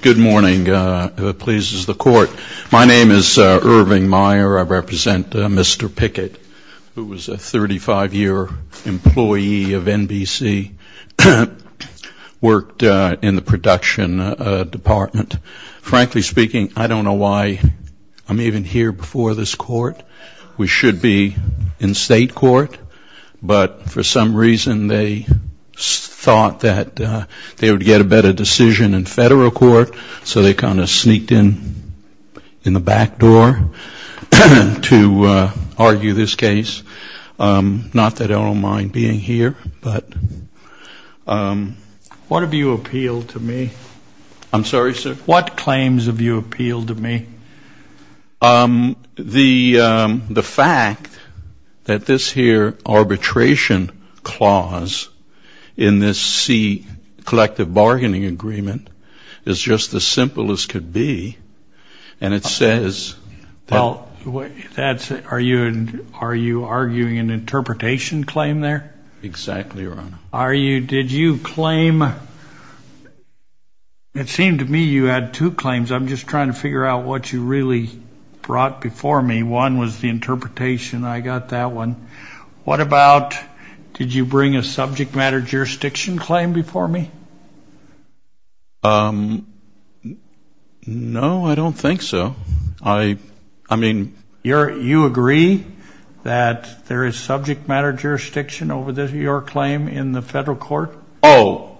Good morning, if it pleases the Court. My name is Irving Meyer. I represent Mr. Pickett, who was a 35-year employee of NBC, worked in the production department. Frankly speaking, I don't know why I'm even here before this Court. We should be in State Court, but for some reason they thought that they would get a better decision in Federal Court, so they kind of sneaked in the back door to argue this case. Not that I don't mind being here, but... What have you appealed to me? I'm sorry, sir? What claims have you appealed to me? The fact that this here arbitration clause in this C, Collective Bargaining Agreement, is just as simple as could be, and it says... Are you arguing an interpretation claim there? Exactly, Your Honor. Did you claim... It seemed to me you had two claims. I'm just trying to figure out what you really brought before me. One was the interpretation, I got that one. What about, did you bring a subject matter jurisdiction claim before me? No, I don't think so. I mean... You agree that there is subject matter jurisdiction over your claim in the Federal Court? Oh,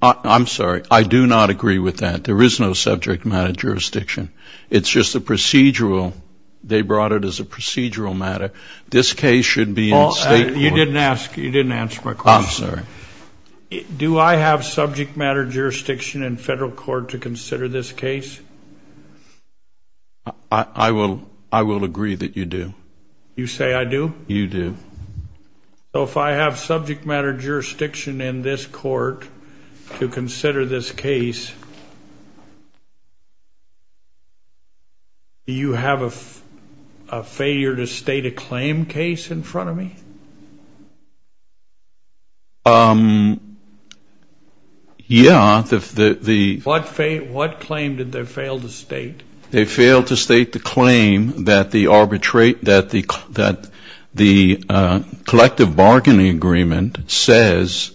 I'm sorry. I do not agree with that. There is no subject matter jurisdiction. It's just a procedural, they brought it as a procedural matter. This case should be in State Court. You didn't ask, you didn't answer my question. I'm sorry. Do I have subject matter jurisdiction in Federal Court to consider this case? I will agree that you do. You say I do? You do. So if I have subject matter jurisdiction in this court to consider this case, do you have a failure to state a claim case in front of me? Yeah, the... What claim did they fail to state? They failed to state the claim that the collective bargaining agreement says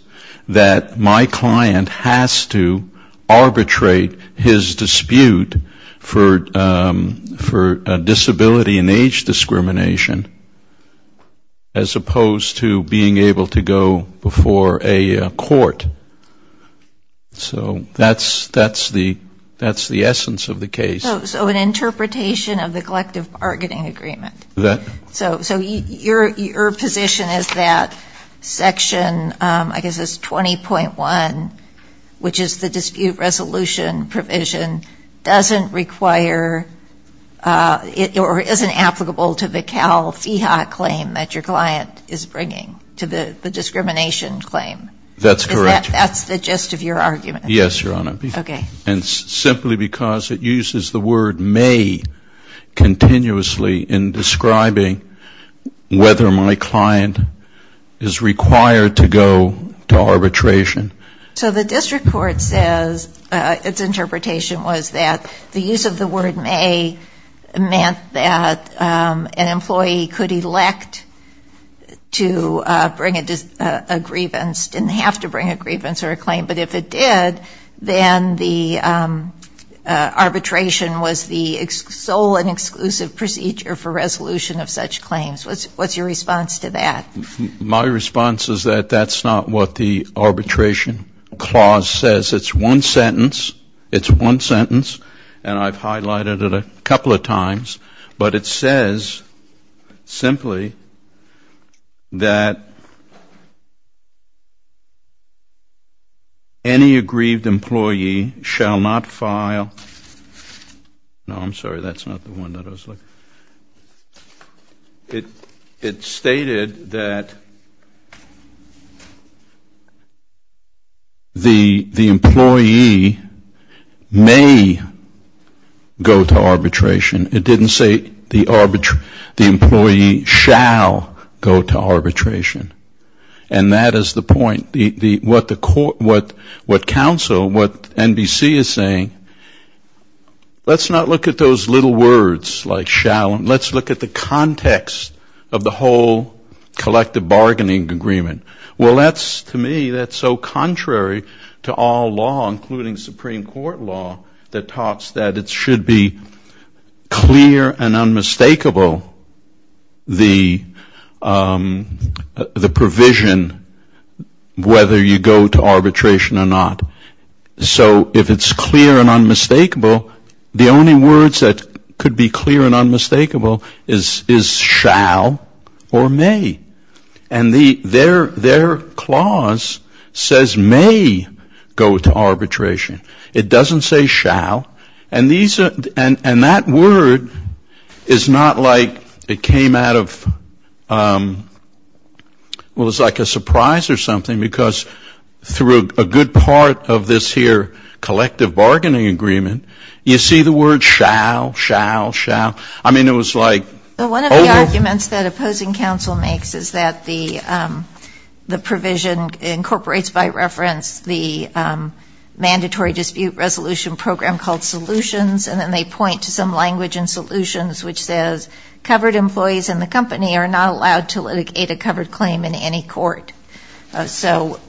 that my client has to arbitrate his dispute for disability and age discrimination as opposed to being able to go before a court. So that's the essence of the case. So an interpretation of the collective bargaining agreement. That... So your position is that section, I guess it's 20.1, which is the dispute resolution provision, doesn't require or isn't applicable to the Cal FIHA claim that your client is bringing to the discrimination claim. That's correct. Is that the gist of your argument? Yes, Your Honor. Okay. And simply because it uses the word may continuously in describing whether my client is required to go to arbitration. So the district court says its interpretation was that the use of the word may meant that an employee could elect to bring a grievance, didn't have to bring a grievance or a claim. But if it did, then the arbitration was the sole and exclusive procedure for resolution of such claims. What's your response to that? My response is that that's not what the arbitration clause says. It's one sentence. It's one sentence. And I've highlighted it a couple of times. But it says simply that any aggrieved employee shall not file, no, I'm sorry, that's not the one that I was looking at. It stated that the employee may go to arbitration. It didn't say the employee shall go to arbitration. And that is the point. What counsel, what NBC is saying, let's not look at those little words like shall. Let's look at the context of the whole collective bargaining agreement. Well, that's, to me, that's so contrary to all law, including Supreme Court law, that talks that it should be clear and unmistakable the provision whether you go to arbitration or not. So if it's clear and unmistakable, the only words that could be clear and unmistakable is shall or may. And their clause says may go to arbitration. It doesn't say shall. And that word is not like it came out of, well, it's like a surprise or something, because through a good part of this here collective bargaining agreement, you see the word shall, shall, shall. I mean, it was like. One of the arguments that opposing counsel makes is that the provision incorporates by reference the mandatory dispute resolution program called solutions, and then they point to some language in solutions which says covered employees in the company are not allowed to litigate a covered claim in any court. So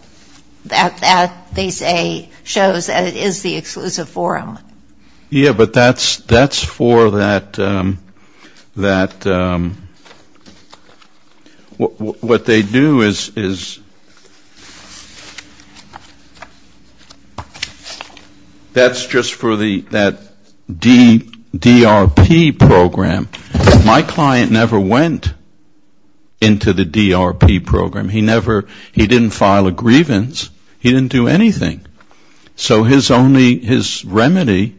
that, they say, shows that it is the exclusive forum. Yeah, but that's for that, what they do is, that's just for that DRP program. My client never went into the DRP program. He never, he didn't file a grievance. He didn't do anything. So his only, his remedy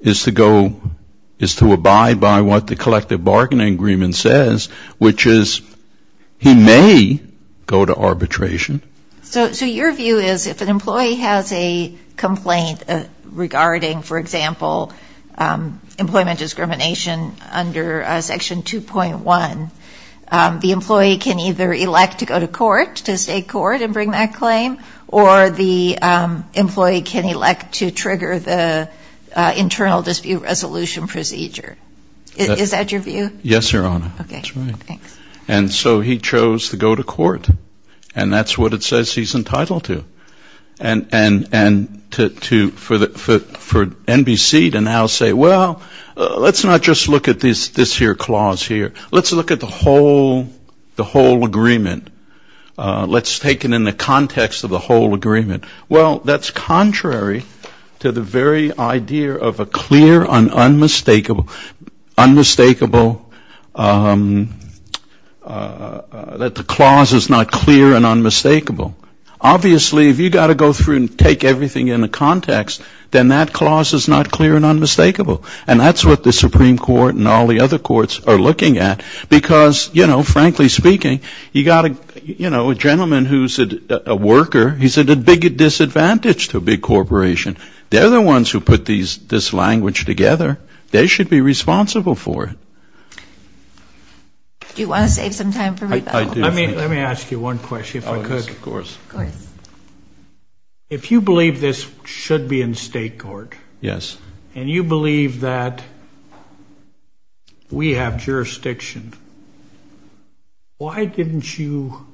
is to go, is to abide by what the collective bargaining agreement says, which is he may go to arbitration. So your view is if an employee has a complaint regarding, for example, employment discrimination under Section 2.1, the employee can either elect to go to court, to state court and bring that claim, or the employee can elect to trigger the internal dispute resolution procedure. Is that your view? Yes, Your Honor. Okay. That's right. Thanks. And so he chose to go to court, and that's what it says he's entitled to. And to, for NBC to now say, well, let's not just look at this here clause here. Let's look at the whole, the whole agreement. Let's take it in the context of the whole agreement. Well, that's contrary to the very idea of a clear and unmistakable, unmistakable, that the clause is not clear and unmistakable. Obviously, if you've got to go through and take everything into context, then that clause is not clear and unmistakable. And that's what the Supreme Court and all the other courts are looking at, because, you know, frankly speaking, you've got to, you know, a gentleman who's a worker, he's at a big disadvantage to a big corporation. They're the ones who put this language together. They should be responsible for it. Do you want to save some time for rebuttal? Let me ask you one question, folks. Of course. Of course. If you believe this should be in state court. Yes. And you believe that we have jurisdiction. Why didn't you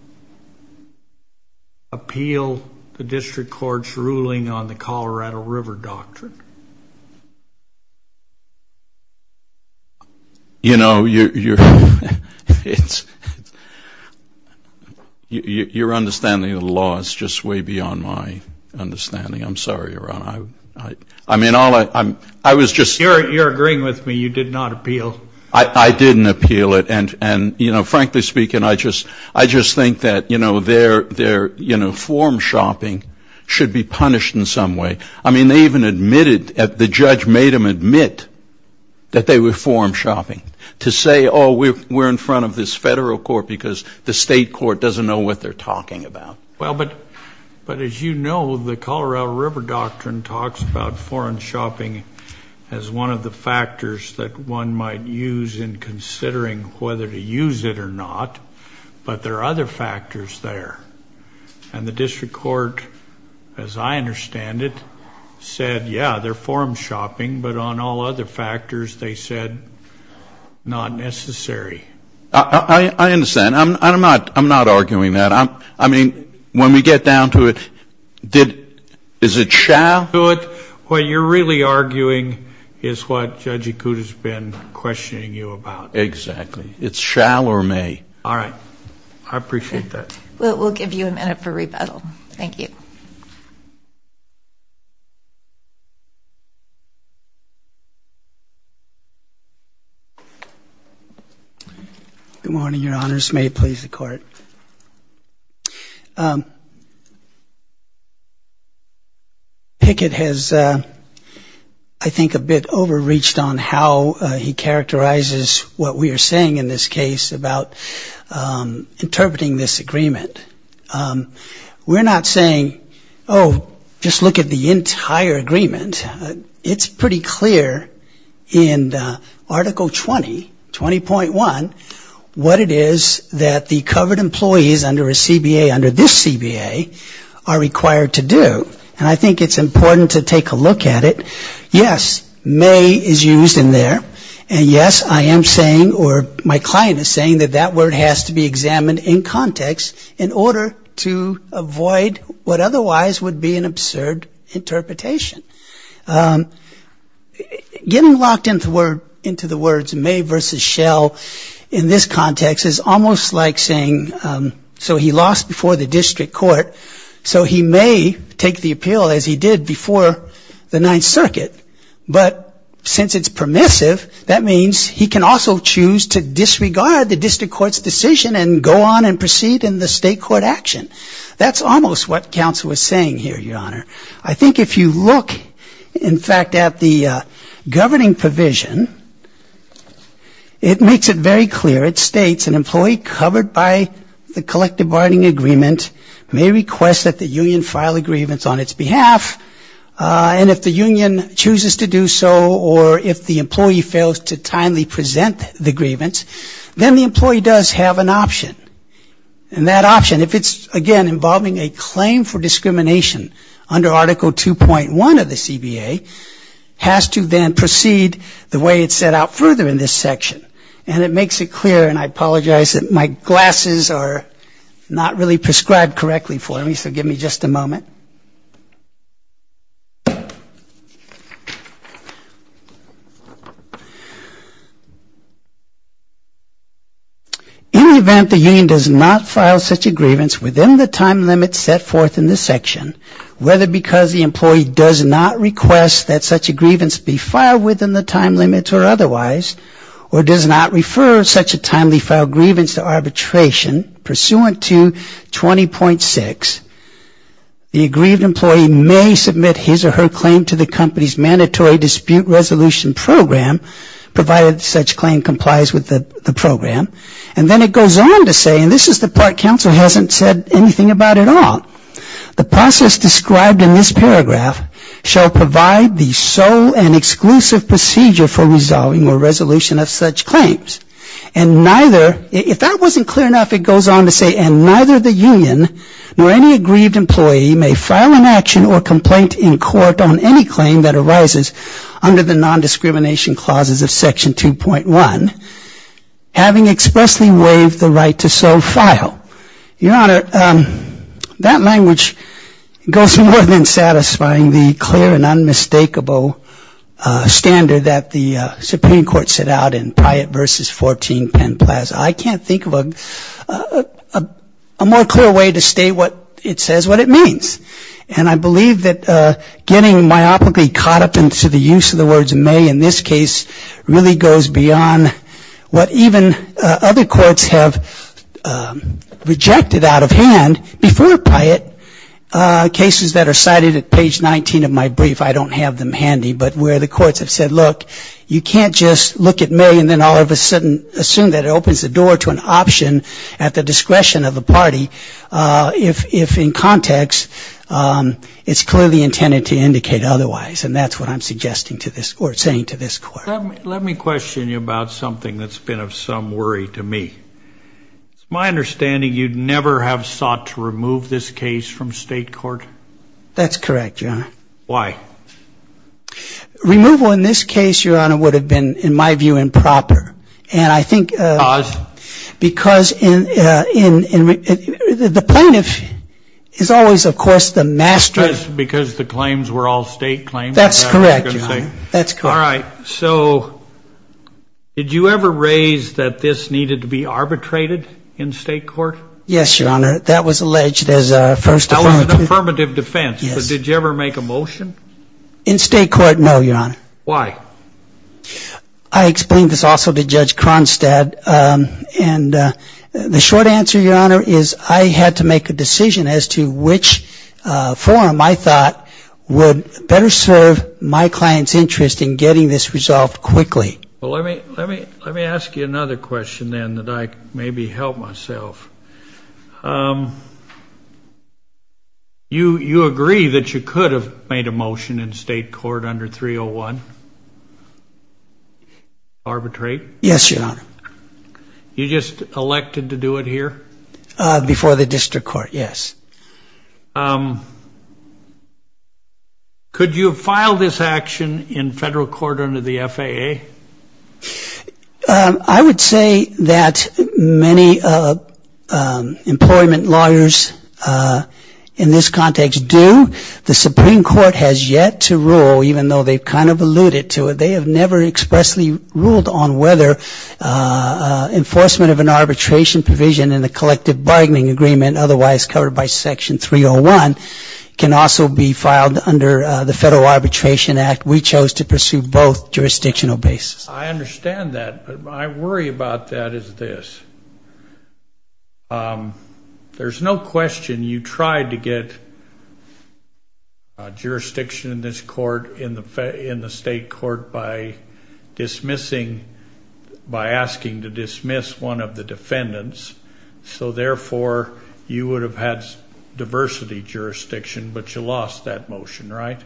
appeal the district court's ruling on the Colorado River Doctrine? You know, your understanding of the law is just way beyond my understanding. I'm sorry, Your Honor. I mean, I was just. You're agreeing with me. You did not appeal. I didn't appeal it. And, you know, frankly speaking, I just think that, you know, their form shopping should be punished in some way. I mean, they even admitted, the judge made them admit that they were form shopping to say, oh, we're in front of this federal court because the state court doesn't know what they're talking about. Well, but as you know, the Colorado River Doctrine talks about foreign shopping as one of the factors that one might use in considering whether to use it or not. But there are other factors there. And the district court, as I understand it, said, yeah, they're form shopping. But on all other factors, they said not necessary. I understand. I'm not arguing that. I mean, when we get down to it, is it shall do it? What you're really arguing is what Judge Acuta's been questioning you about. Exactly. It's shall or may. All right. I appreciate that. We'll give you a minute for rebuttal. Thank you. Good morning, Your Honors. May it please the Court. Pickett has, I think, a bit overreached on how he characterizes what we are saying in this case about interpreting this agreement. We're not saying, oh, just look at the entire agreement. It's pretty clear in Article 20, 20.1, what it is that the covered employees under a CBA, under this CBA, are required to do. And I think it's important to take a look at it. Yes, may is used in there. And yes, I am saying, or my client is saying, that that word has to be examined in context in order to avoid what otherwise would be an absurd interpretation. Getting locked into the words may versus shall in this context is almost like saying, so he lost before the district court, so he may take the appeal as he did before the Ninth Circuit. But since it's permissive, that means he can also choose to disregard the district court's decision and go on and proceed in the state court action. That's almost what counsel was saying here, Your Honor. I think if you look, in fact, at the governing provision, it makes it very clear. It states an employee covered by the collective bargaining agreement may request that the union file a grievance on its behalf. And if the union chooses to do so, or if the employee fails to timely present the grievance, then the employee does have an option. And that option, if it's, again, involving a claim for discrimination under Article 2.1 of the CBA, has to then proceed the way it's set out further in this section. And it makes it clear, and I apologize that my glasses are not really prescribed correctly for me, so give me just a moment. In the event the union does not file such a grievance within the time limit set forth in this section, whether because the employee does not request that such a grievance be filed within the time limit or otherwise, or does not refer such a timely filed grievance to arbitration pursuant to 20.6, the aggrieved employee may submit his or her claim to the company's mandatory dispute resolution program, provided such claim complies with the program. And then it goes on to say, and this is the part counsel hasn't said anything about at all, the process described in this paragraph shall provide the sole and exclusive procedure for resolving or resolution of such claims. And neither, if that wasn't clear enough, it goes on to say, and neither the union nor any aggrieved employee may file an action or complaint in court on any claim that arises under the nondiscrimination clauses of Section 2.1, having expressly waived the right to so file. Well, Your Honor, that language goes more than satisfying the clear and unmistakable standard that the Supreme Court set out in Pryatt v. 14 Penn Plaza. I can't think of a more clear way to state what it says, what it means. And I believe that getting myopically caught up into the use of the words may in this case really goes beyond what even other courts have rejected out of hand before Pryatt. Cases that are cited at page 19 of my brief, I don't have them handy, but where the courts have said, look, you can't just look at me and then all of a sudden assume that it opens the door to an option at the discretion of a party, if in context it's clearly intended to indicate otherwise. And that's what I'm suggesting to this court, saying to this court. Let me question you about something that's been of some worry to me. It's my understanding you'd never have sought to remove this case from state court? That's correct, Your Honor. Why? Removal in this case, Your Honor, would have been, in my view, improper. And I think because the plaintiff is always, of course, the master. Because the claims were all state claims? That's correct, Your Honor. That's correct. All right. So did you ever raise that this needed to be arbitrated in state court? Yes, Your Honor. That was alleged as a first affirmative. That was an affirmative defense. Yes. But did you ever make a motion? In state court, no, Your Honor. Why? I explained this also to Judge Kronstad. And the short answer, Your Honor, is I had to make a decision as to which forum I thought would better serve my client's interest in getting this resolved quickly. Well, let me ask you another question, then, that I can maybe help myself. You agree that you could have made a motion in state court under 301 to arbitrate? Yes, Your Honor. You just elected to do it here? Before the district court, yes. Could you have filed this action in federal court under the FAA? I would say that many employment lawyers in this context do. The Supreme Court has yet to rule, even though they've kind of alluded to it. They have never expressly ruled on whether enforcement of an arbitration provision in the collective bargaining agreement, otherwise covered by Section 301, can also be filed under the Federal Arbitration Act. We chose to pursue both jurisdictional bases. I understand that. But my worry about that is this. There's no question you tried to get jurisdiction in this court, in the state court, by dismissing, by asking to dismiss one of the defendants. So, therefore, you would have had diversity jurisdiction, but you lost that motion, right?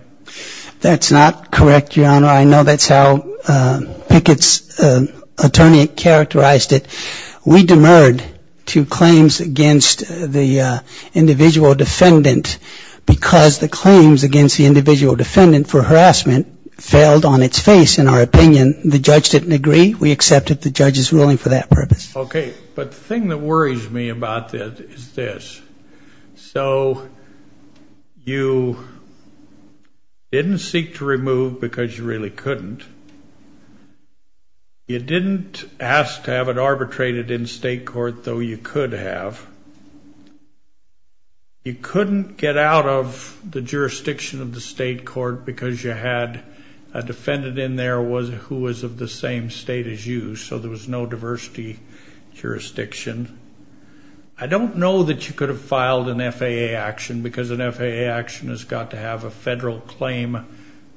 That's not correct, Your Honor. I know that's how Pickett's attorney characterized it. We demurred to claims against the individual defendant because the claims against the individual defendant for harassment failed on its face, in our opinion. The judge didn't agree. We accepted the judge's ruling for that purpose. Okay. But the thing that worries me about this is this. So you didn't seek to remove because you really couldn't. You didn't ask to have it arbitrated in state court, though you could have. You couldn't get out of the jurisdiction of the state court because you had a defendant in there who was of the same state as you, so there was no diversity jurisdiction. I don't know that you could have filed an FAA action because an FAA action has got to have a federal claim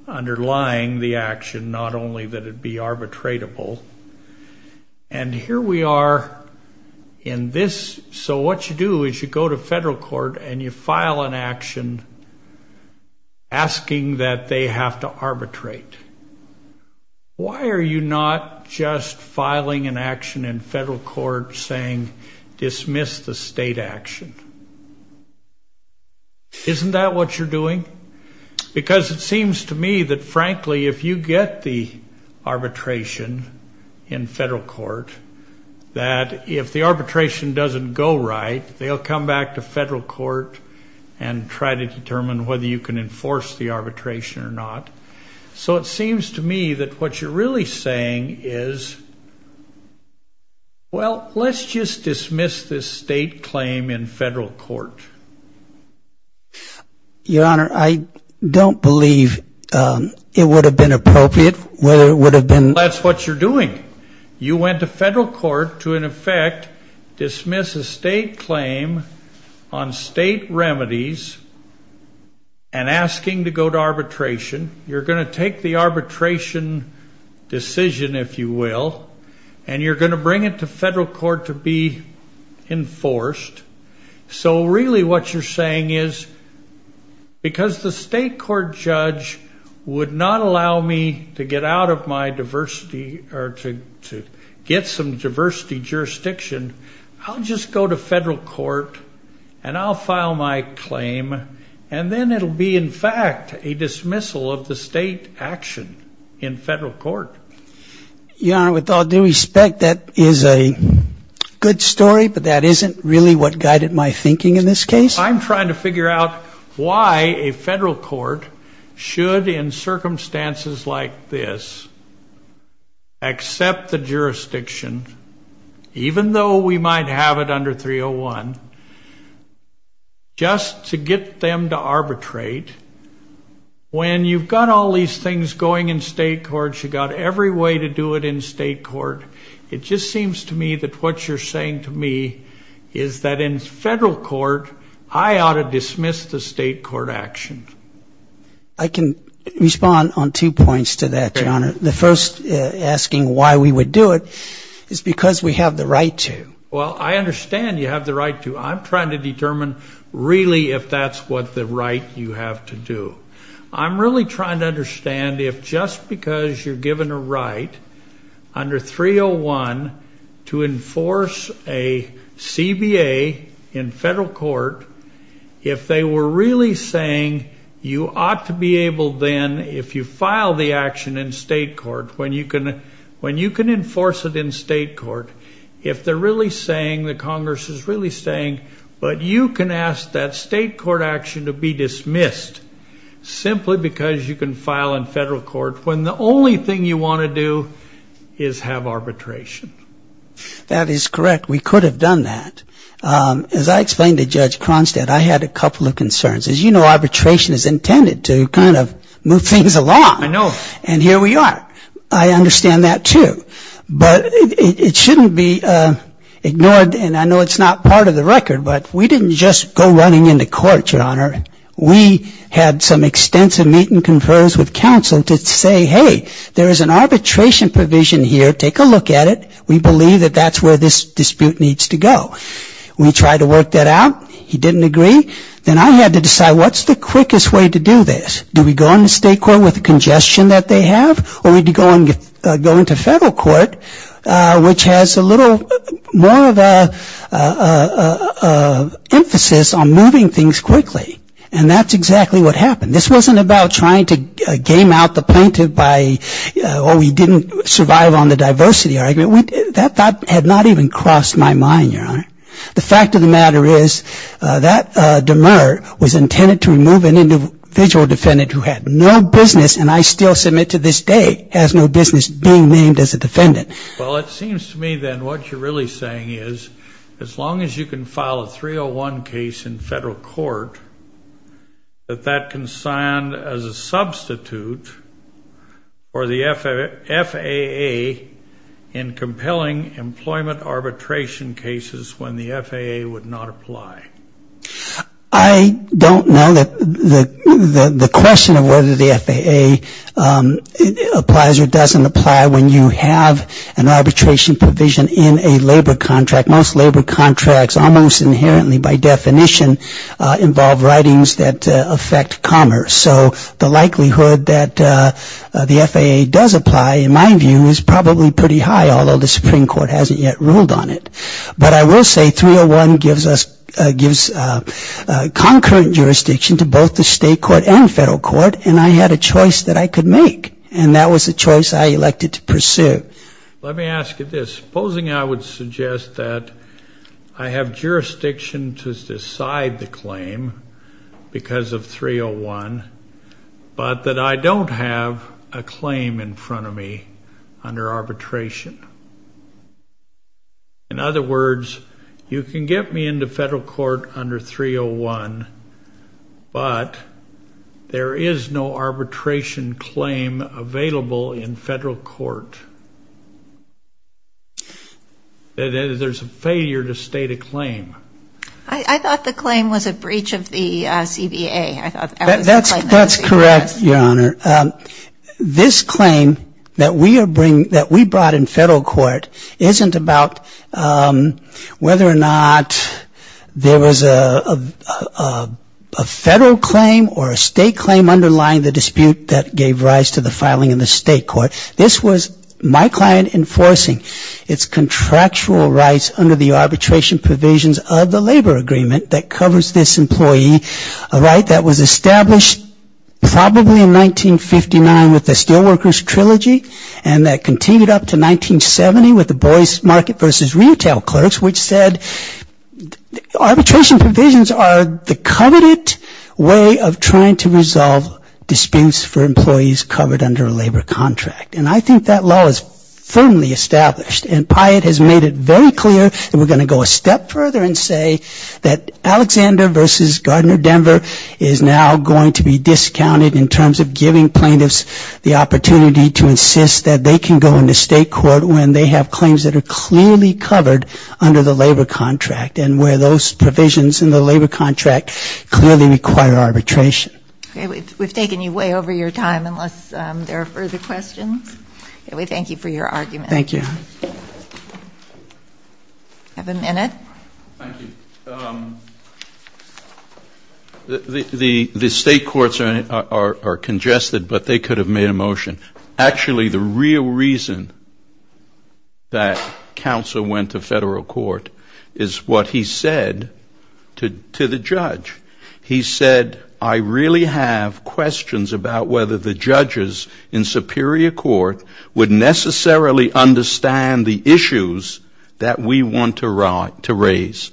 underlying the action, not only that it be arbitratable. And here we are in this. So what you do is you go to federal court and you file an action asking that they have to arbitrate. Why are you not just filing an action in federal court saying dismiss the state action? Isn't that what you're doing? Because it seems to me that, frankly, if you get the arbitration in federal court, that if the arbitration doesn't go right, they'll come back to federal court and try to determine whether you can enforce the arbitration or not. So it seems to me that what you're really saying is, well, let's just dismiss this state claim in federal court. Your Honor, I don't believe it would have been appropriate whether it would have been. That's what you're doing. You went to federal court to, in effect, dismiss a state claim on state remedies and asking to go to arbitration. You're going to take the arbitration decision, if you will, and you're going to bring it to federal court to be enforced. So really what you're saying is because the state court judge would not allow me to get out of my diversity or to get some diversity jurisdiction, I'll just go to federal court and I'll file my claim, and then it'll be, in fact, a dismissal of the state action in federal court. Your Honor, with all due respect, that is a good story, but that isn't really what guided my thinking in this case. I'm trying to figure out why a federal court should, in circumstances like this, accept the jurisdiction, even though we might have it under 301, just to get them to arbitrate, when you've got all these things going in state courts, you've got every way to do it in state court. It just seems to me that what you're saying to me is that in federal court, I ought to dismiss the state court action. The first asking why we would do it is because we have the right to. Well, I understand you have the right to. I'm trying to determine really if that's what the right you have to do. I'm really trying to understand if just because you're given a right under 301 to enforce a CBA in federal court, if they were really saying you ought to be able then, if you file the action in state court, when you can enforce it in state court, if they're really saying, the Congress is really saying, but you can ask that state court action to be dismissed simply because you can file in federal court when the only thing you want to do is have arbitration. That is correct. We could have done that. As I explained to Judge Cronstadt, I had a couple of concerns. As you know, arbitration is intended to kind of move things along. I know. And here we are. I understand that, too. But it shouldn't be ignored. And I know it's not part of the record, but we didn't just go running into court, Your Honor. We had some extensive meetings with counsel to say, hey, there is an arbitration provision here. Take a look at it. We believe that that's where this dispute needs to go. We tried to work that out. He didn't agree. Then I had to decide, what's the quickest way to do this? Do we go into state court with the congestion that they have, or do we go into federal court, which has a little more of an emphasis on moving things quickly? And that's exactly what happened. This wasn't about trying to game out the plaintiff by, oh, we didn't survive on the diversity argument. That had not even crossed my mind, Your Honor. The fact of the matter is that demur was intended to remove an individual defendant who had no business, and I still submit to this day has no business being named as a defendant. Well, it seems to me then what you're really saying is as long as you can file a 301 case in federal court, that that can stand as a substitute for the FAA in compelling employment arbitration cases when the FAA would not apply. I don't know that the question of whether the FAA applies or doesn't apply when you have an arbitration provision in a labor contract. Most labor contracts almost inherently by definition involve writings that affect commerce. So the likelihood that the FAA does apply, in my view, is probably pretty high, although the Supreme Court hasn't yet ruled on it. But I will say 301 gives concurrent jurisdiction to both the state court and federal court, and I had a choice that I could make, and that was the choice I elected to pursue. Let me ask you this. Supposing I would suggest that I have jurisdiction to decide the claim because of 301, but that I don't have a claim in front of me under arbitration. In other words, you can get me into federal court under 301, but there is no arbitration claim available in federal court. There's a failure to state a claim. I thought the claim was a breach of the CBA. That's correct, Your Honor. This claim that we brought in federal court isn't about whether or not there was a federal claim or a state claim underlying the dispute that gave rise to the filing in the state court. This was my client enforcing its contractual rights under the arbitration provisions of the labor agreement that covers this employee, a right that was established probably in 1959 with the Steelworkers Trilogy and that continued up to 1970 with the Boyce Market v. Retail Clerks, which said arbitration provisions are the coveted way of trying to resolve disputes for employees covered under a labor contract. And I think that law is firmly established, and Pyatt has made it very clear that we're going to go a step further and say that Alexander v. Gardner Denver is now going to be discounted in terms of giving plaintiffs the opportunity to insist that they can go into state court when they have claims that are clearly covered under the labor contract and where those provisions in the labor contract clearly require arbitration. Okay, we've taken you way over your time unless there are further questions. We thank you for your argument. Thank you. Do you have a minute? Thank you. The state courts are congested, but they could have made a motion. Actually, the real reason that counsel went to federal court is what he said to the judge. He said, I really have questions about whether the judges in superior court would necessarily understand the issues that we want to raise.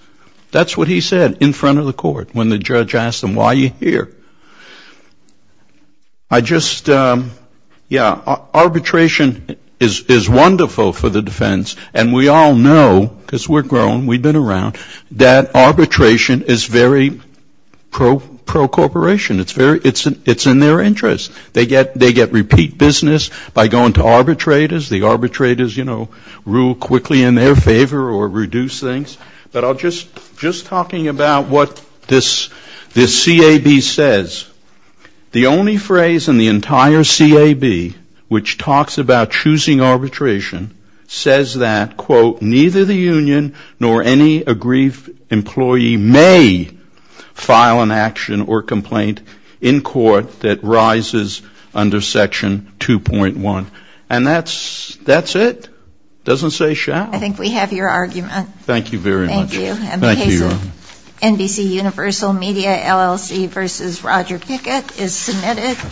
That's what he said in front of the court when the judge asked him, why are you here? I just, yeah, arbitration is wonderful for the defense, and we all know, because we're grown, we've been around, that arbitration is very pro-corporation. It's in their interest. They get repeat business by going to arbitrators. The arbitrators, you know, rule quickly in their favor or reduce things. But I'll just, just talking about what this CAB says, the only phrase in the entire CAB which talks about choosing arbitration says that, quote, neither the union nor any aggrieved employee may file an action or complaint in court that rises under section 2.1. And that's it. Doesn't say shall. I think we have your argument. Thank you very much. Thank you. Thank you, Your Honor. And the case of NBCUniversal Media LLC v. Roger Pickett is submitted.